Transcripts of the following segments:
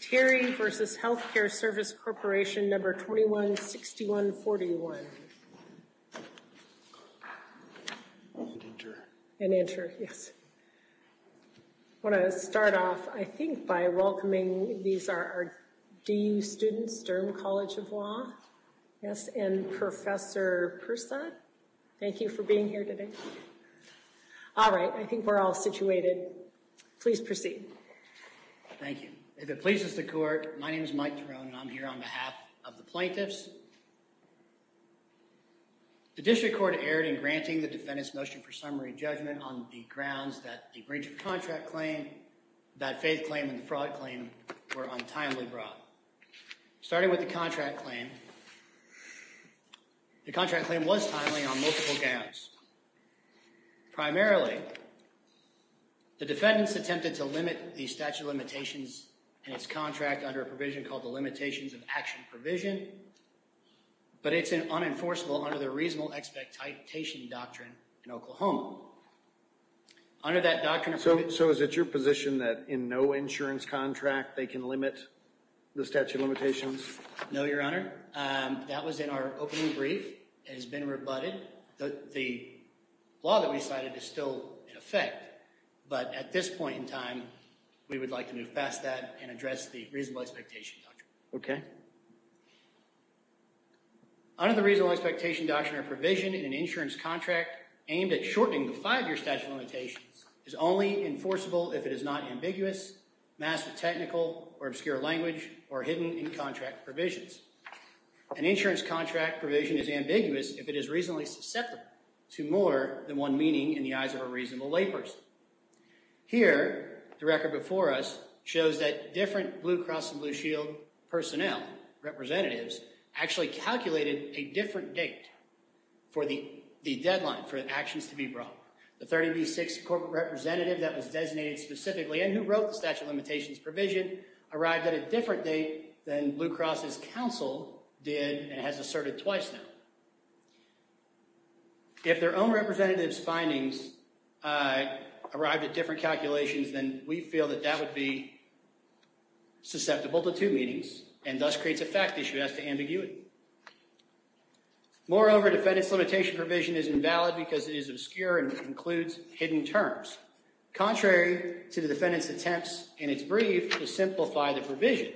Terry versus Health Care Service Corporation number 21 6141 and enter. Yes. I want to start off, I think, by welcoming. These are our DU students, Durham College of Law. Yes, and Professor Persaud. Thank you for being here today. All right. I think we're all situated. Please proceed. Thank you. If it pleases the court, my name is Mike drone. And I'm here on behalf of the plaintiffs. The district court erred in granting the defendants motion for summary judgment on the grounds that the breach of contract claim that faith claim and fraud claim were untimely brought starting with the contract claim. The contract claim was timely on multiple gowns. Primarily. The defendants attempted to limit the statute of limitations and its contract under a provision called the limitations of action provision. But it's an unenforceable under the reasonable expectation doctrine in Oklahoma. Under that doctrine. So, so is it your position that in no insurance contract, they can limit the statute of limitations? No, your honor. That was in our opening. Brief has been rebutted. The law that we cited is still in effect. But at this point in time, we would like to move past that and address the reasonable expectation. Okay. Under the reasonable expectation doctrine or provision in an insurance contract aimed at shortening the five-year statute of limitations is only enforceable. If it is not ambiguous massive technical or obscure language or hidden in contract provisions. An insurance contract provision is ambiguous. If it is reasonably susceptible to more than one meaning in the eyes of a reasonable layperson. Here, the record before us shows that different Blue Cross and Blue Shield personnel representatives actually calculated a different date for the deadline for actions to be brought. The 30B6 corporate representative that was designated specifically and who wrote the statute of limitations provision arrived at a different date than Blue Cross's counsel did and has asserted twice now. If their own representatives findings arrived at different calculations, then we feel that that would be susceptible to two meanings and thus creates a fact issue as to ambiguity. Moreover, defendant's limitation provision is invalid because it is obscure and includes hidden terms. Contrary to the defendant's attempts in its brief to simplify the provision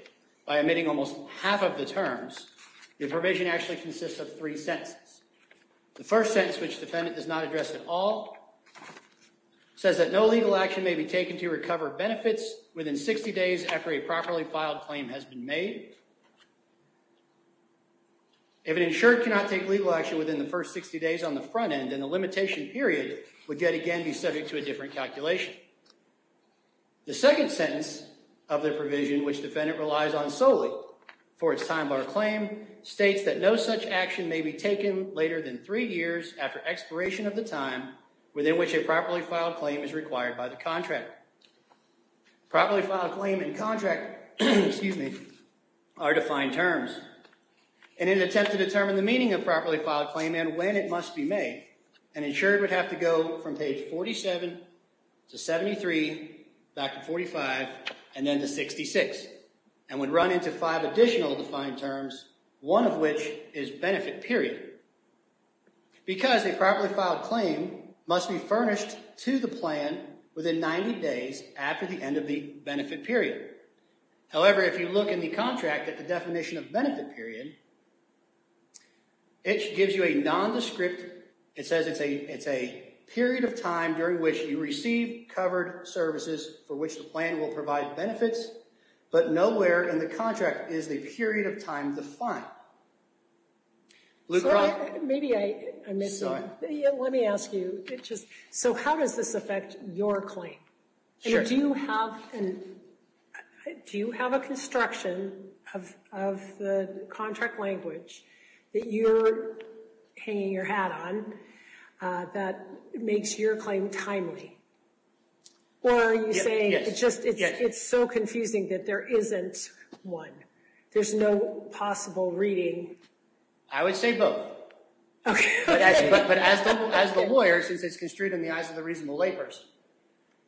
by omitting almost half of the terms, the provision actually consists of three sentences. The first sentence, which defendant does not address at all, says that no legal action may be taken to recover benefits within 60 days after a properly filed claim has been made. If an insured cannot take legal action within the first 60 days on the front end, then the limitation period would yet again be subject to a different calculation. The second sentence of the provision, which defendant relies on solely for its time bar claim, states that no such action may be taken later than three years after expiration of the time within which a properly filed claim is required by the contractor. Properly filed claim and contract are defined terms. In an attempt to determine the meaning of properly filed claim and when it must be made, an insured would have to go from page 47 to 73 back to 45 and then to 66 and would run into five additional defined terms, one of which is benefit period. Because a properly filed claim must be furnished to the plan within 90 days after the end of the benefit period. However, if you look in the contract at the definition of benefit period, it gives you a nondescript, it says it's a period of time during which you receive covered services for which the plan will provide benefits, but nowhere in the contract is the period of time defined. So how does this affect your claim? Do you have a construction of the contract language that you're hanging your hat on that makes your claim timely? Or are you saying it's so confusing that there isn't one? There's no possible reading. I would say both. Okay. But as the lawyer, since it's construed in the eyes of the reasonable layperson,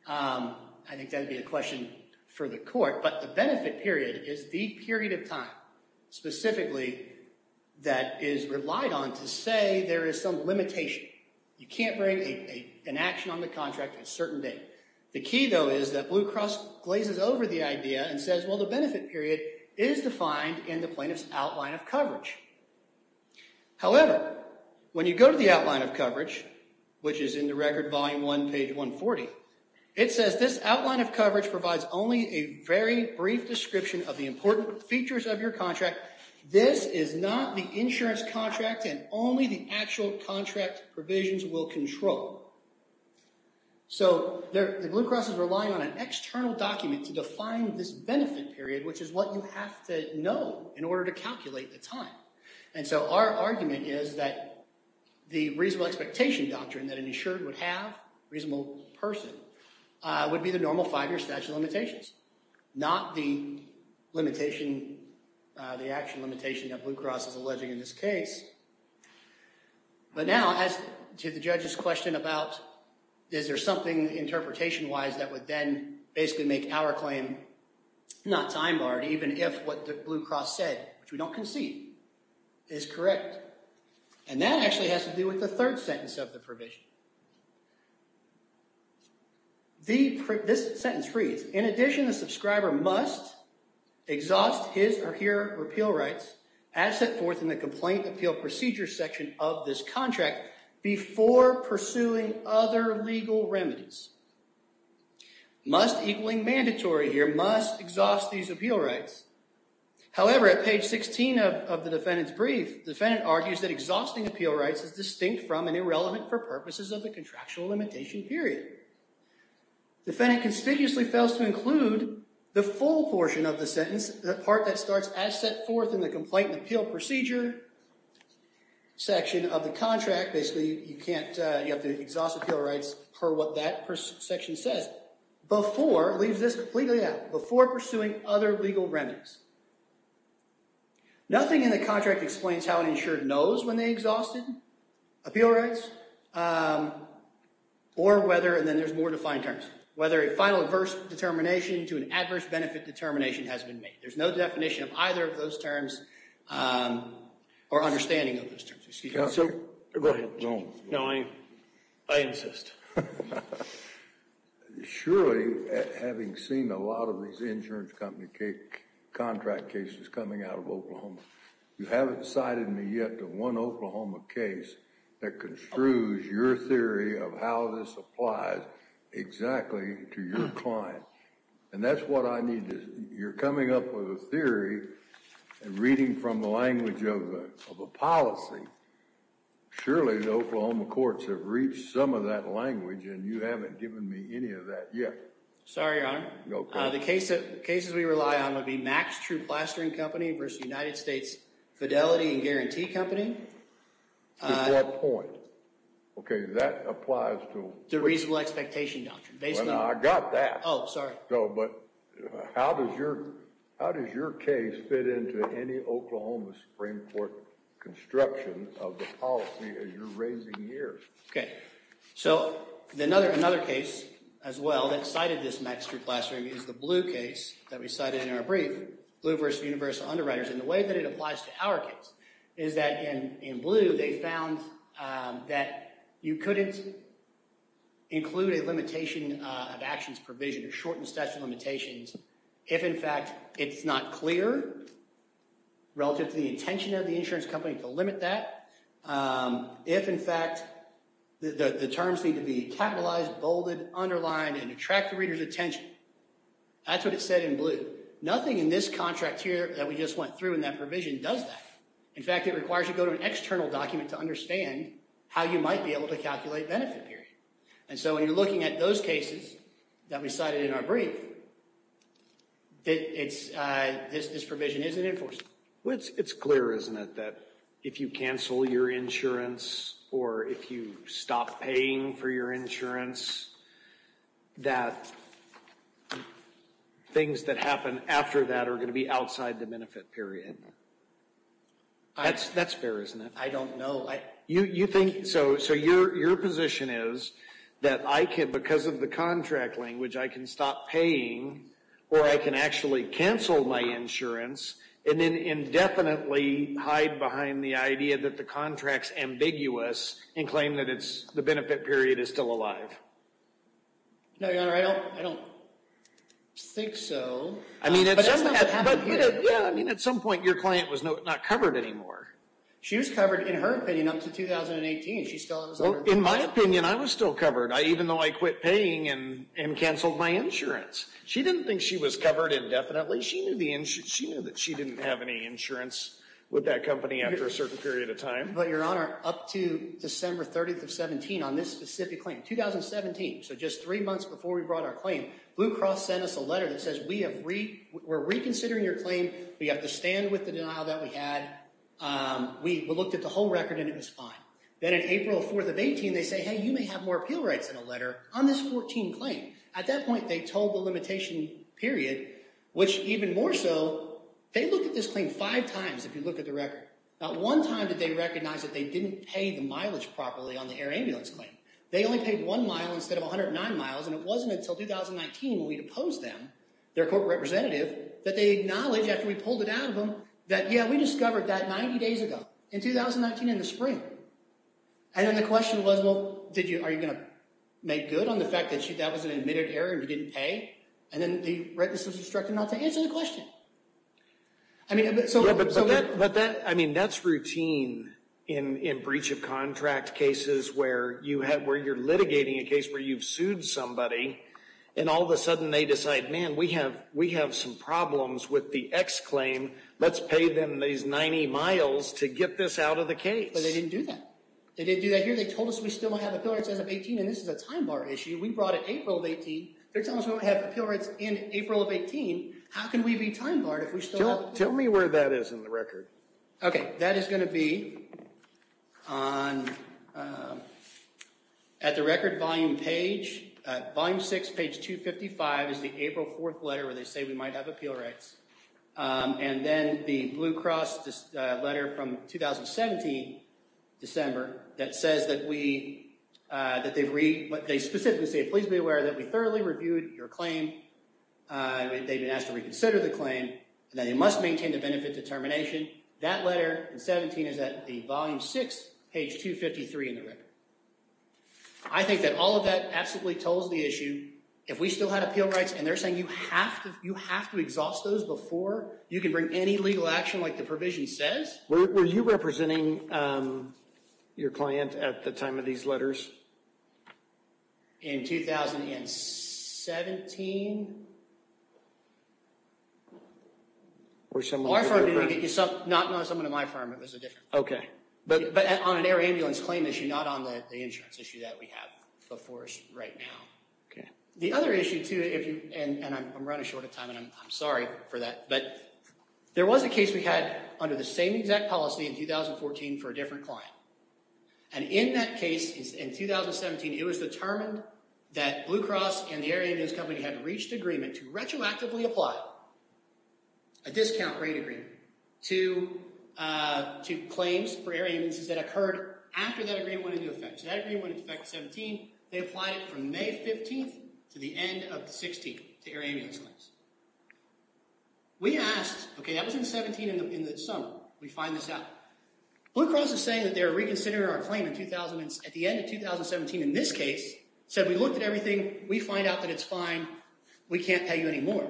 I think that would be a question for the court. But the benefit period is the period of time specifically that is relied on to say there is some limitation. You can't bring an action on the contract at a certain date. The key, though, is that Blue Cross glazes over the idea and says, well, the benefit period is defined in the plaintiff's outline of coverage. However, when you go to the outline of coverage, which is in the record volume 1, page 140, it says this outline of coverage provides only a very brief description of the important features of your contract. This is not the insurance contract and only the actual contract provisions will control. So the Blue Cross is relying on an external document to define this benefit period, which is what you have to know in order to calculate the time. And so our argument is that the reasonable expectation doctrine that an insured would have, a reasonable person, would be the normal five-year statute of limitations, not the limitation, the action limitation that Blue Cross is alleging in this case. But now, as to the judge's question about is there something interpretation-wise that would then basically make our claim not time-barred, even if what Blue Cross said, which we don't concede, is correct. And that actually has to do with the third sentence of the provision. This sentence reads, in addition, the subscriber must exhaust his or her appeal rights as set forth in the complaint appeal procedure section of this contract before pursuing other legal remedies. Must, equaling mandatory here, must exhaust these appeal rights. However, at page 16 of the defendant's brief, the defendant argues that exhausting appeal rights is distinct from and irrelevant for purposes of the contractual limitation period. Defendant conspicuously fails to include the full portion of the sentence, the part that starts as set forth in the complaint appeal procedure section of the contract. Basically, you can't, you have to exhaust appeal rights per what that section says before, leaves this completely out, before pursuing other legal remedies. Nothing in the contract explains how an insured knows when they exhausted appeal rights or whether, and then there's more defined terms, whether a final adverse determination to an adverse benefit determination has been made. There's no definition of either of those terms or understanding of those terms. Go ahead. No, I insist. Surely, having seen a lot of these insurance company contract cases coming out of Oklahoma, you haven't cited me yet to one Oklahoma case that construes your theory of how this applies exactly to your client. And that's what I need. You're coming up with a theory and reading from the language of a policy. Surely, the Oklahoma courts have reached some of that language and you haven't given me any of that yet. Sorry, Your Honor. Go ahead. The cases we rely on would be Mack's True Plastering Company versus United States Fidelity and Guarantee Company. At what point? Okay, that applies to? The reasonable expectation doctrine. I got that. Oh, sorry. No, but how does your case fit into any Oklahoma Supreme Court construction of the policy as you're raising years? Okay. So, another case as well that cited this Mack's True Plastering is the Blue case that we cited in our brief, Blue versus Universal Underwriters. And the way that it applies to our case is that in Blue, they found that you couldn't include a limitation of actions provision or shortened statute of limitations if, in fact, it's not clear relative to the intention of the insurance company to limit that. If, in fact, the terms need to be capitalized, bolded, underlined, and attract the reader's attention. That's what it said in Blue. Nothing in this contract here that we just went through in that provision does that. In fact, it requires you to go to an external document to understand how you might be able to calculate benefit period. And so when you're looking at those cases that we cited in our brief, this provision isn't enforced. It's clear, isn't it, that if you cancel your insurance or if you stop paying for your insurance, that things that happen after that are going to be outside the benefit period. That's fair, isn't it? I don't know. So your position is that I can, because of the contract language, I can stop paying or I can actually cancel my insurance and then indefinitely hide behind the idea that the contract's ambiguous and claim that the benefit period is still alive. No, Your Honor, I don't think so. But that's not what happened here. Yeah, I mean, at some point, your client was not covered anymore. She was covered, in her opinion, up to 2018. In my opinion, I was still covered, even though I quit paying and canceled my insurance. She didn't think she was covered indefinitely. She knew that she didn't have any insurance with that company after a certain period of time. But, Your Honor, up to December 30th of 2017, on this specific claim, 2017, so just three months before we brought our claim, Blue Cross sent us a letter that says we're reconsidering your claim. We have to stand with the denial that we had. We looked at the whole record and it was fine. Then on April 4th of 18, they say, hey, you may have more appeal rights than a letter on this 14 claim. At that point, they told the limitation period, which even more so, they looked at this claim five times if you look at the record. Not one time did they recognize that they didn't pay the mileage properly on the air ambulance claim. They only paid one mile instead of 109 miles, and it wasn't until 2019 when we deposed them, their corporate representative, that they acknowledged after we pulled it out of them that, yeah, we discovered that 90 days ago, in 2019 in the spring. And then the question was, well, are you going to make good on the fact that that was an admitted error and you didn't pay? And then they, right, this was instructed not to answer the question. But that's routine in breach of contract cases where you're litigating a case where you've sued somebody, and all of a sudden they decide, man, we have some problems with the X claim. Let's pay them these 90 miles to get this out of the case. But they didn't do that. They didn't do that here. They told us we still have appeal rights as of 18, and this is a time bar issue. We brought it April of 18. They're telling us we won't have appeal rights in April of 18. How can we be time barred if we still have appeal rights? Tell me where that is in the record. Okay. That is going to be at the record volume page. Volume 6, page 255 is the April 4th letter where they say we might have appeal rights. And then the Blue Cross letter from 2017, December, that says that we, that they specifically say, please be aware that we thoroughly reviewed your claim. They've been asked to reconsider the claim, and that you must maintain the benefit determination. That letter in 17 is at the volume 6, page 253 in the record. I think that all of that absolutely tolls the issue. If we still had appeal rights, and they're saying you have to exhaust those before you can bring any legal action like the provision says? Were you representing your client at the time of these letters? In 2017? Not someone at my firm. It was a different firm. Okay. But on an air ambulance claim issue, not on the insurance issue that we have before us right now. Okay. The other issue, too, and I'm running short of time, and I'm sorry for that, but there was a case we had under the same exact policy in 2014 for a different client. And in that case, in 2017, it was determined that Blue Cross and the air ambulance company had reached agreement to retroactively apply a discount rate agreement to claims for air ambulances that occurred after that agreement went into effect. So that agreement went into effect in 17. They applied it from May 15th to the end of the 16th to air ambulance claims. We asked, okay, that was in 17 in the summer. We find this out. Blue Cross is saying that they're reconsidering our claim at the end of 2017 in this case, said we looked at everything. We find out that it's fine. We can't pay you anymore.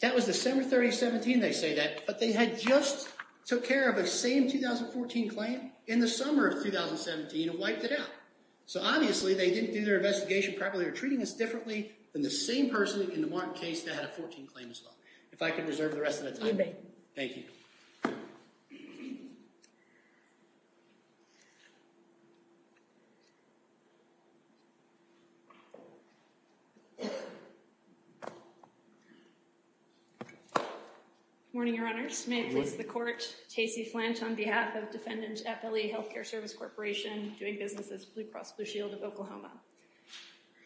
That was December 30th, 17, they say that, but they had just took care of the same 2014 claim in the summer of 2017 and wiped it out. So obviously, they didn't do their investigation properly or treating us differently than the same person in the Martin case that had a 14 claim as well. If I could reserve the rest of the time. You may. Thank you. Morning, Your Honors. May it please the Court. Tacey Flanch on behalf of Defendant Eppley Healthcare Service Corporation, doing business as Blue Cross Blue Shield of Oklahoma.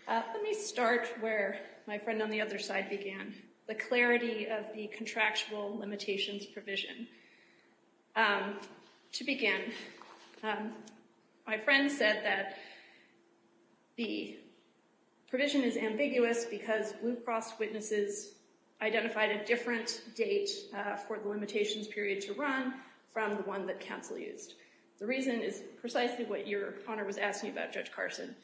Let me start where my friend on the other side began. The clarity of the contractual limitations provision. To begin, my friend said that the provision is ambiguous because Blue Cross witnesses identified a different date for the limitations period to run from the one that counsel used. The reason is precisely what Your Honor was asking about, Judge Carson,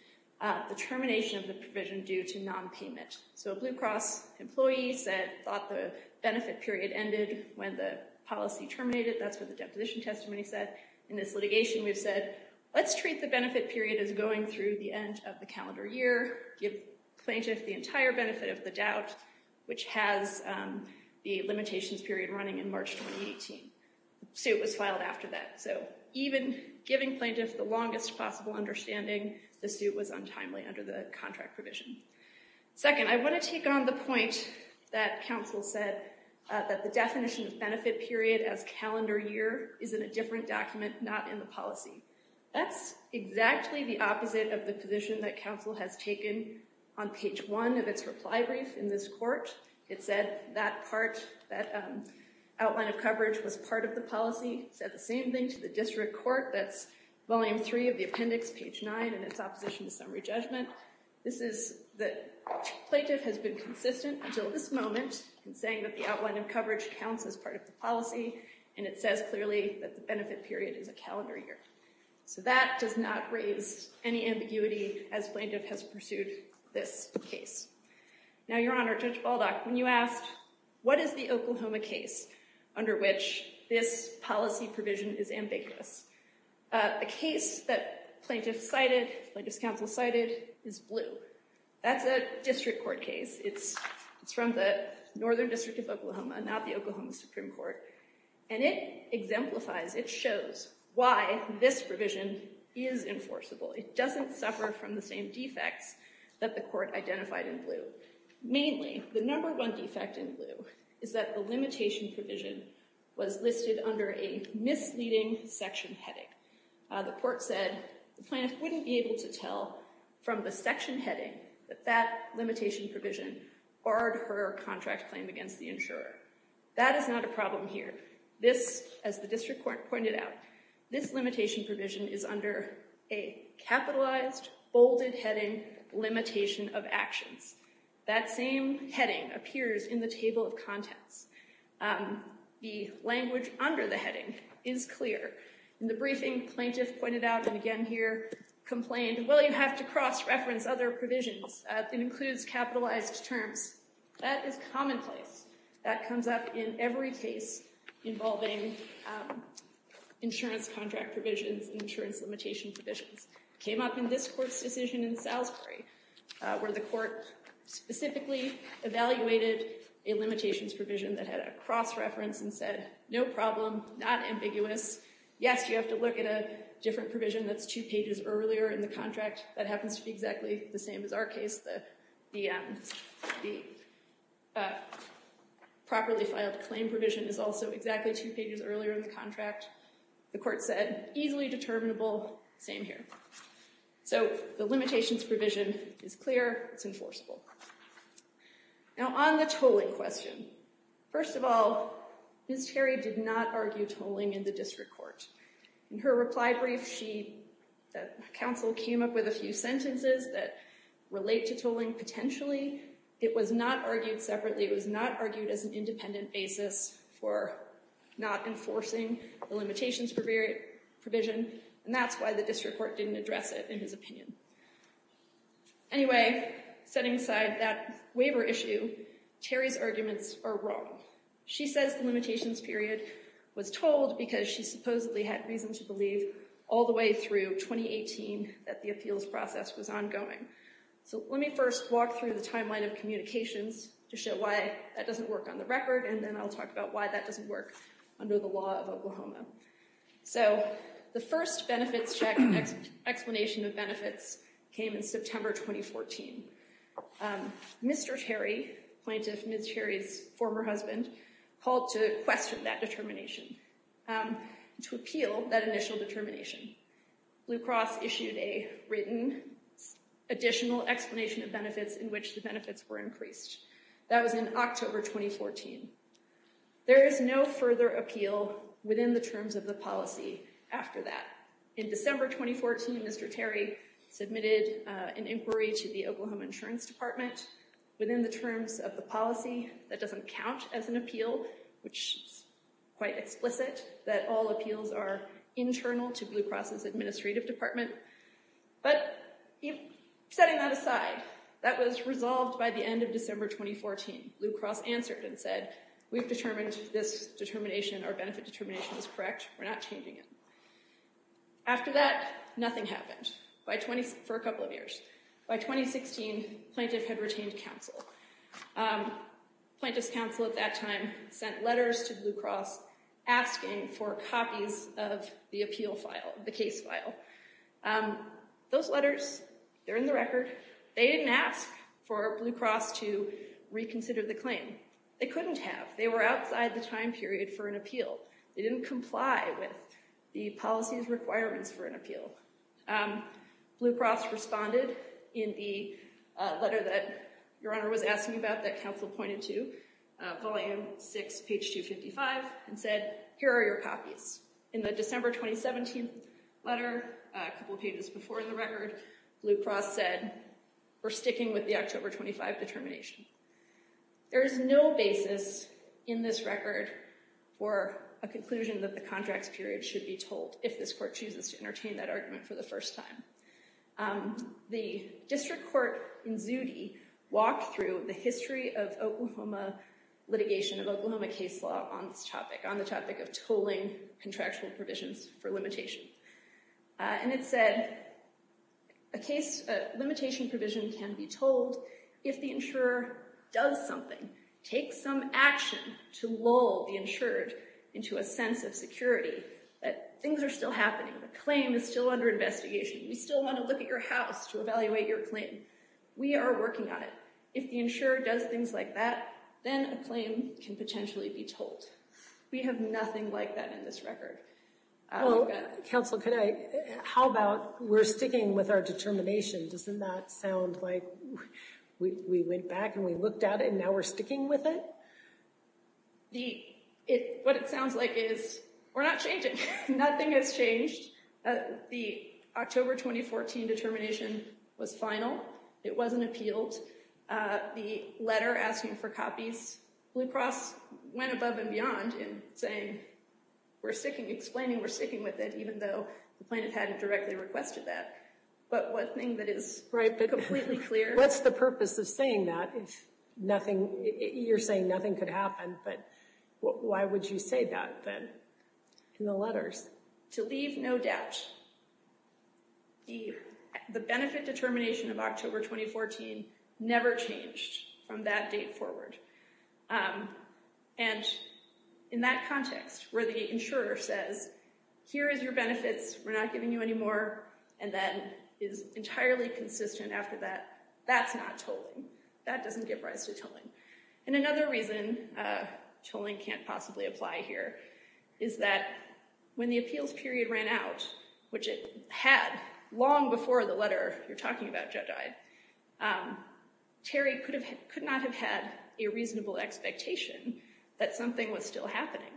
the termination of the provision due to nonpayment. So Blue Cross employees thought the benefit period ended when the policy terminated. That's what the deposition testimony said. In this litigation, we've said, let's treat the benefit period as going through the end of the calendar year. Give plaintiff the entire benefit of the doubt, which has the limitations period running in March 2018. The suit was filed after that. So even giving plaintiff the longest possible understanding, the suit was untimely under the contract provision. Second, I want to take on the point that counsel said that the definition of benefit period as calendar year is in a different document, not in the policy. That's exactly the opposite of the position that counsel has taken on page one of its reply brief in this court. It said that part, that outline of coverage was part of the policy. It said the same thing to the district court. That's volume three of the appendix, page nine, and its opposition to summary judgment. This is that plaintiff has been consistent until this moment in saying that the outline of coverage counts as part of the policy. And it says clearly that the benefit period is a calendar year. So that does not raise any ambiguity as plaintiff has pursued this case. Now, Your Honor, Judge Baldock, when you asked, what is the Oklahoma case under which this policy provision is ambiguous? A case that plaintiff cited, plaintiff's counsel cited, is Blue. That's a district court case. It's from the Northern District of Oklahoma, not the Oklahoma Supreme Court. And it exemplifies, it shows why this provision is enforceable. It doesn't suffer from the same defects that the court identified in Blue. The court said the plaintiff wouldn't be able to tell from the section heading that that limitation provision barred her contract claim against the insurer. That is not a problem here. This, as the district court pointed out, this limitation provision is under a capitalized, bolded heading, limitation of actions. That same heading appears in the table of contents. The language under the heading is clear. In the briefing, plaintiff pointed out, and again here, complained, well, you have to cross-reference other provisions. It includes capitalized terms. That is commonplace. That comes up in every case involving insurance contract provisions and insurance limitation provisions. It came up in this court's decision in Salisbury, where the court specifically evaluated a limitations provision that had a cross-reference and said, no problem, not ambiguous. Yes, you have to look at a different provision that's two pages earlier in the contract. That happens to be exactly the same as our case. The properly filed claim provision is also exactly two pages earlier in the contract. The court said, easily determinable, same here. So the limitations provision is clear. It's enforceable. Now, on the tolling question, first of all, Ms. Terry did not argue tolling in the district court. In her reply brief, the counsel came up with a few sentences that relate to tolling. Potentially, it was not argued separately. It was not argued as an independent basis for not enforcing the limitations provision. And that's why the district court didn't address it in his opinion. Anyway, setting aside that waiver issue, Terry's arguments are wrong. She says the limitations period was tolled because she supposedly had reason to believe all the way through 2018 that the appeals process was ongoing. So let me first walk through the timeline of communications to show why that doesn't work on the record, and then I'll talk about why that doesn't work under the law of Oklahoma. So the first benefits check and explanation of benefits came in September 2014. Mr. Terry, plaintiff Ms. Terry's former husband, called to question that determination, to appeal that initial determination. Blue Cross issued a written additional explanation of benefits in which the benefits were increased. That was in October 2014. There is no further appeal within the terms of the policy after that. In December 2014, Mr. Terry submitted an inquiry to the Oklahoma Insurance Department. That doesn't count as an appeal, which is quite explicit, that all appeals are internal to Blue Cross's administrative department. But setting that aside, that was resolved by the end of December 2014. Blue Cross answered and said, we've determined this determination, our benefit determination is correct. We're not changing it. After that, nothing happened for a couple of years. By 2016, plaintiff had retained counsel. Plaintiff's counsel at that time sent letters to Blue Cross asking for copies of the appeal file, the case file. Those letters, they're in the record. They didn't ask for Blue Cross to reconsider the claim. They couldn't have. They were outside the time period for an appeal. They didn't comply with the policy's requirements for an appeal. Blue Cross responded in the letter that Your Honor was asking about that counsel pointed to, Volume 6, page 255, and said, here are your copies. In the December 2017 letter, a couple of pages before the record, Blue Cross said, we're sticking with the October 25 determination. There is no basis in this record for a conclusion that the contract's period should be told if this court chooses to entertain that argument for the first time. The district court in Zutte walked through the history of Oklahoma litigation, of Oklahoma case law on this topic, on the topic of tolling contractual provisions for limitation. And it said, a limitation provision can be told if the insurer does something, takes some action to lull the insured into a sense of security, that things are still happening. The claim is still under investigation. We still want to look at your house to evaluate your claim. We are working on it. If the insurer does things like that, then a claim can potentially be told. We have nothing like that in this record. Counsel, how about we're sticking with our determination? Doesn't that sound like we went back and we looked at it, and now we're sticking with it? What it sounds like is, we're not changing. Nothing has changed. The October 2014 determination was final. It wasn't appealed. The letter asking for copies, Blue Cross went above and beyond in saying, we're sticking with it. We're explaining we're sticking with it, even though the plaintiff hadn't directly requested that. But one thing that is completely clear. What's the purpose of saying that? You're saying nothing could happen, but why would you say that then, in the letters? To leave no doubt. The benefit determination of October 2014 never changed from that date forward. And in that context, where the insurer says, here is your benefits, we're not giving you any more, and then is entirely consistent after that, that's not tolling. That doesn't give rise to tolling. And another reason tolling can't possibly apply here is that when the appeals period ran out, which it had long before the letter you're talking about, Judge Ide, Terry could not have had a reasonable expectation that something was still happening.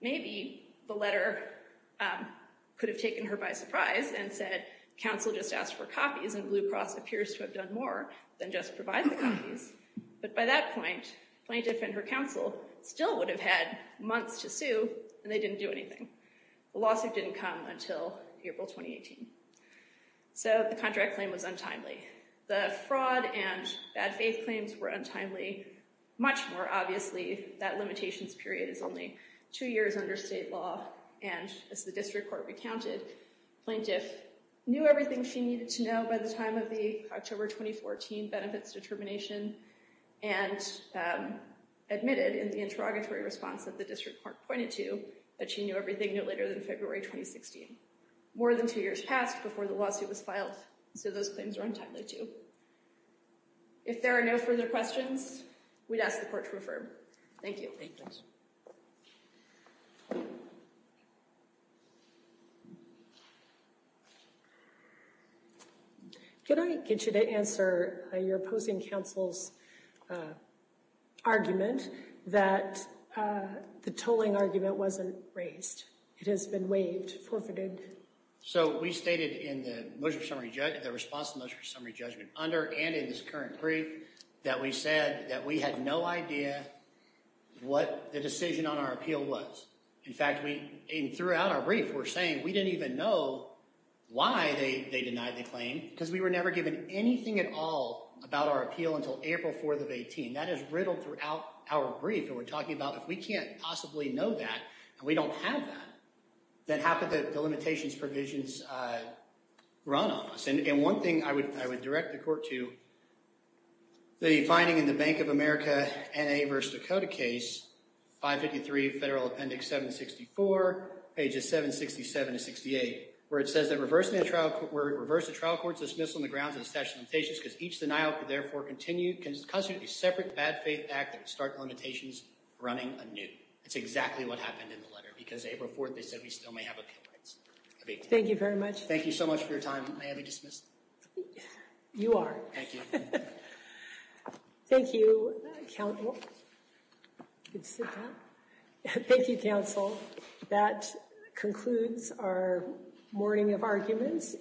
Maybe the letter could have taken her by surprise and said, counsel just asked for copies and Blue Cross appears to have done more than just provide the copies. But by that point, plaintiff and her counsel still would have had months to sue and they didn't do anything. The lawsuit didn't come until April 2018. So the contract claim was untimely. The fraud and bad faith claims were untimely. Much more obviously, that limitations period is only two years under state law. And as the district court recounted, plaintiff knew everything she needed to know by the time of the October 2014 benefits determination and admitted in the interrogatory response that the district court pointed to, that she knew everything no later than February 2016. More than two years passed before the lawsuit was filed. So those claims are untimely too. If there are no further questions, we'd ask the court to refer. Thank you. Thank you. Can I get you to answer your opposing counsel's argument that the tolling argument wasn't raised? So we stated in the response to the summary judgment under and in this current brief that we said that we had no idea what the decision on our appeal was. In fact, throughout our brief, we're saying we didn't even know why they denied the claim because we were never given anything at all about our appeal until April 4th of 2018. That is riddled throughout our brief. And we're talking about if we can't possibly know that, and we don't have that, then how could the limitations provisions run on us? And one thing I would direct the court to, the finding in the Bank of America N.A. v. Dakota case, 553 Federal Appendix 764, pages 767 to 68, where it says that reversing the trial court's dismissal on the grounds of the statute of limitations because each denial could therefore constitute a separate bad faith act that would start limitations running anew. That's exactly what happened in the letter because April 4th, they said we still may have appeal rights. Thank you very much. Thank you so much for your time. May I be dismissed? You are. Thank you. Thank you, counsel. You can sit down. Thank you, counsel. That concludes our morning of arguments.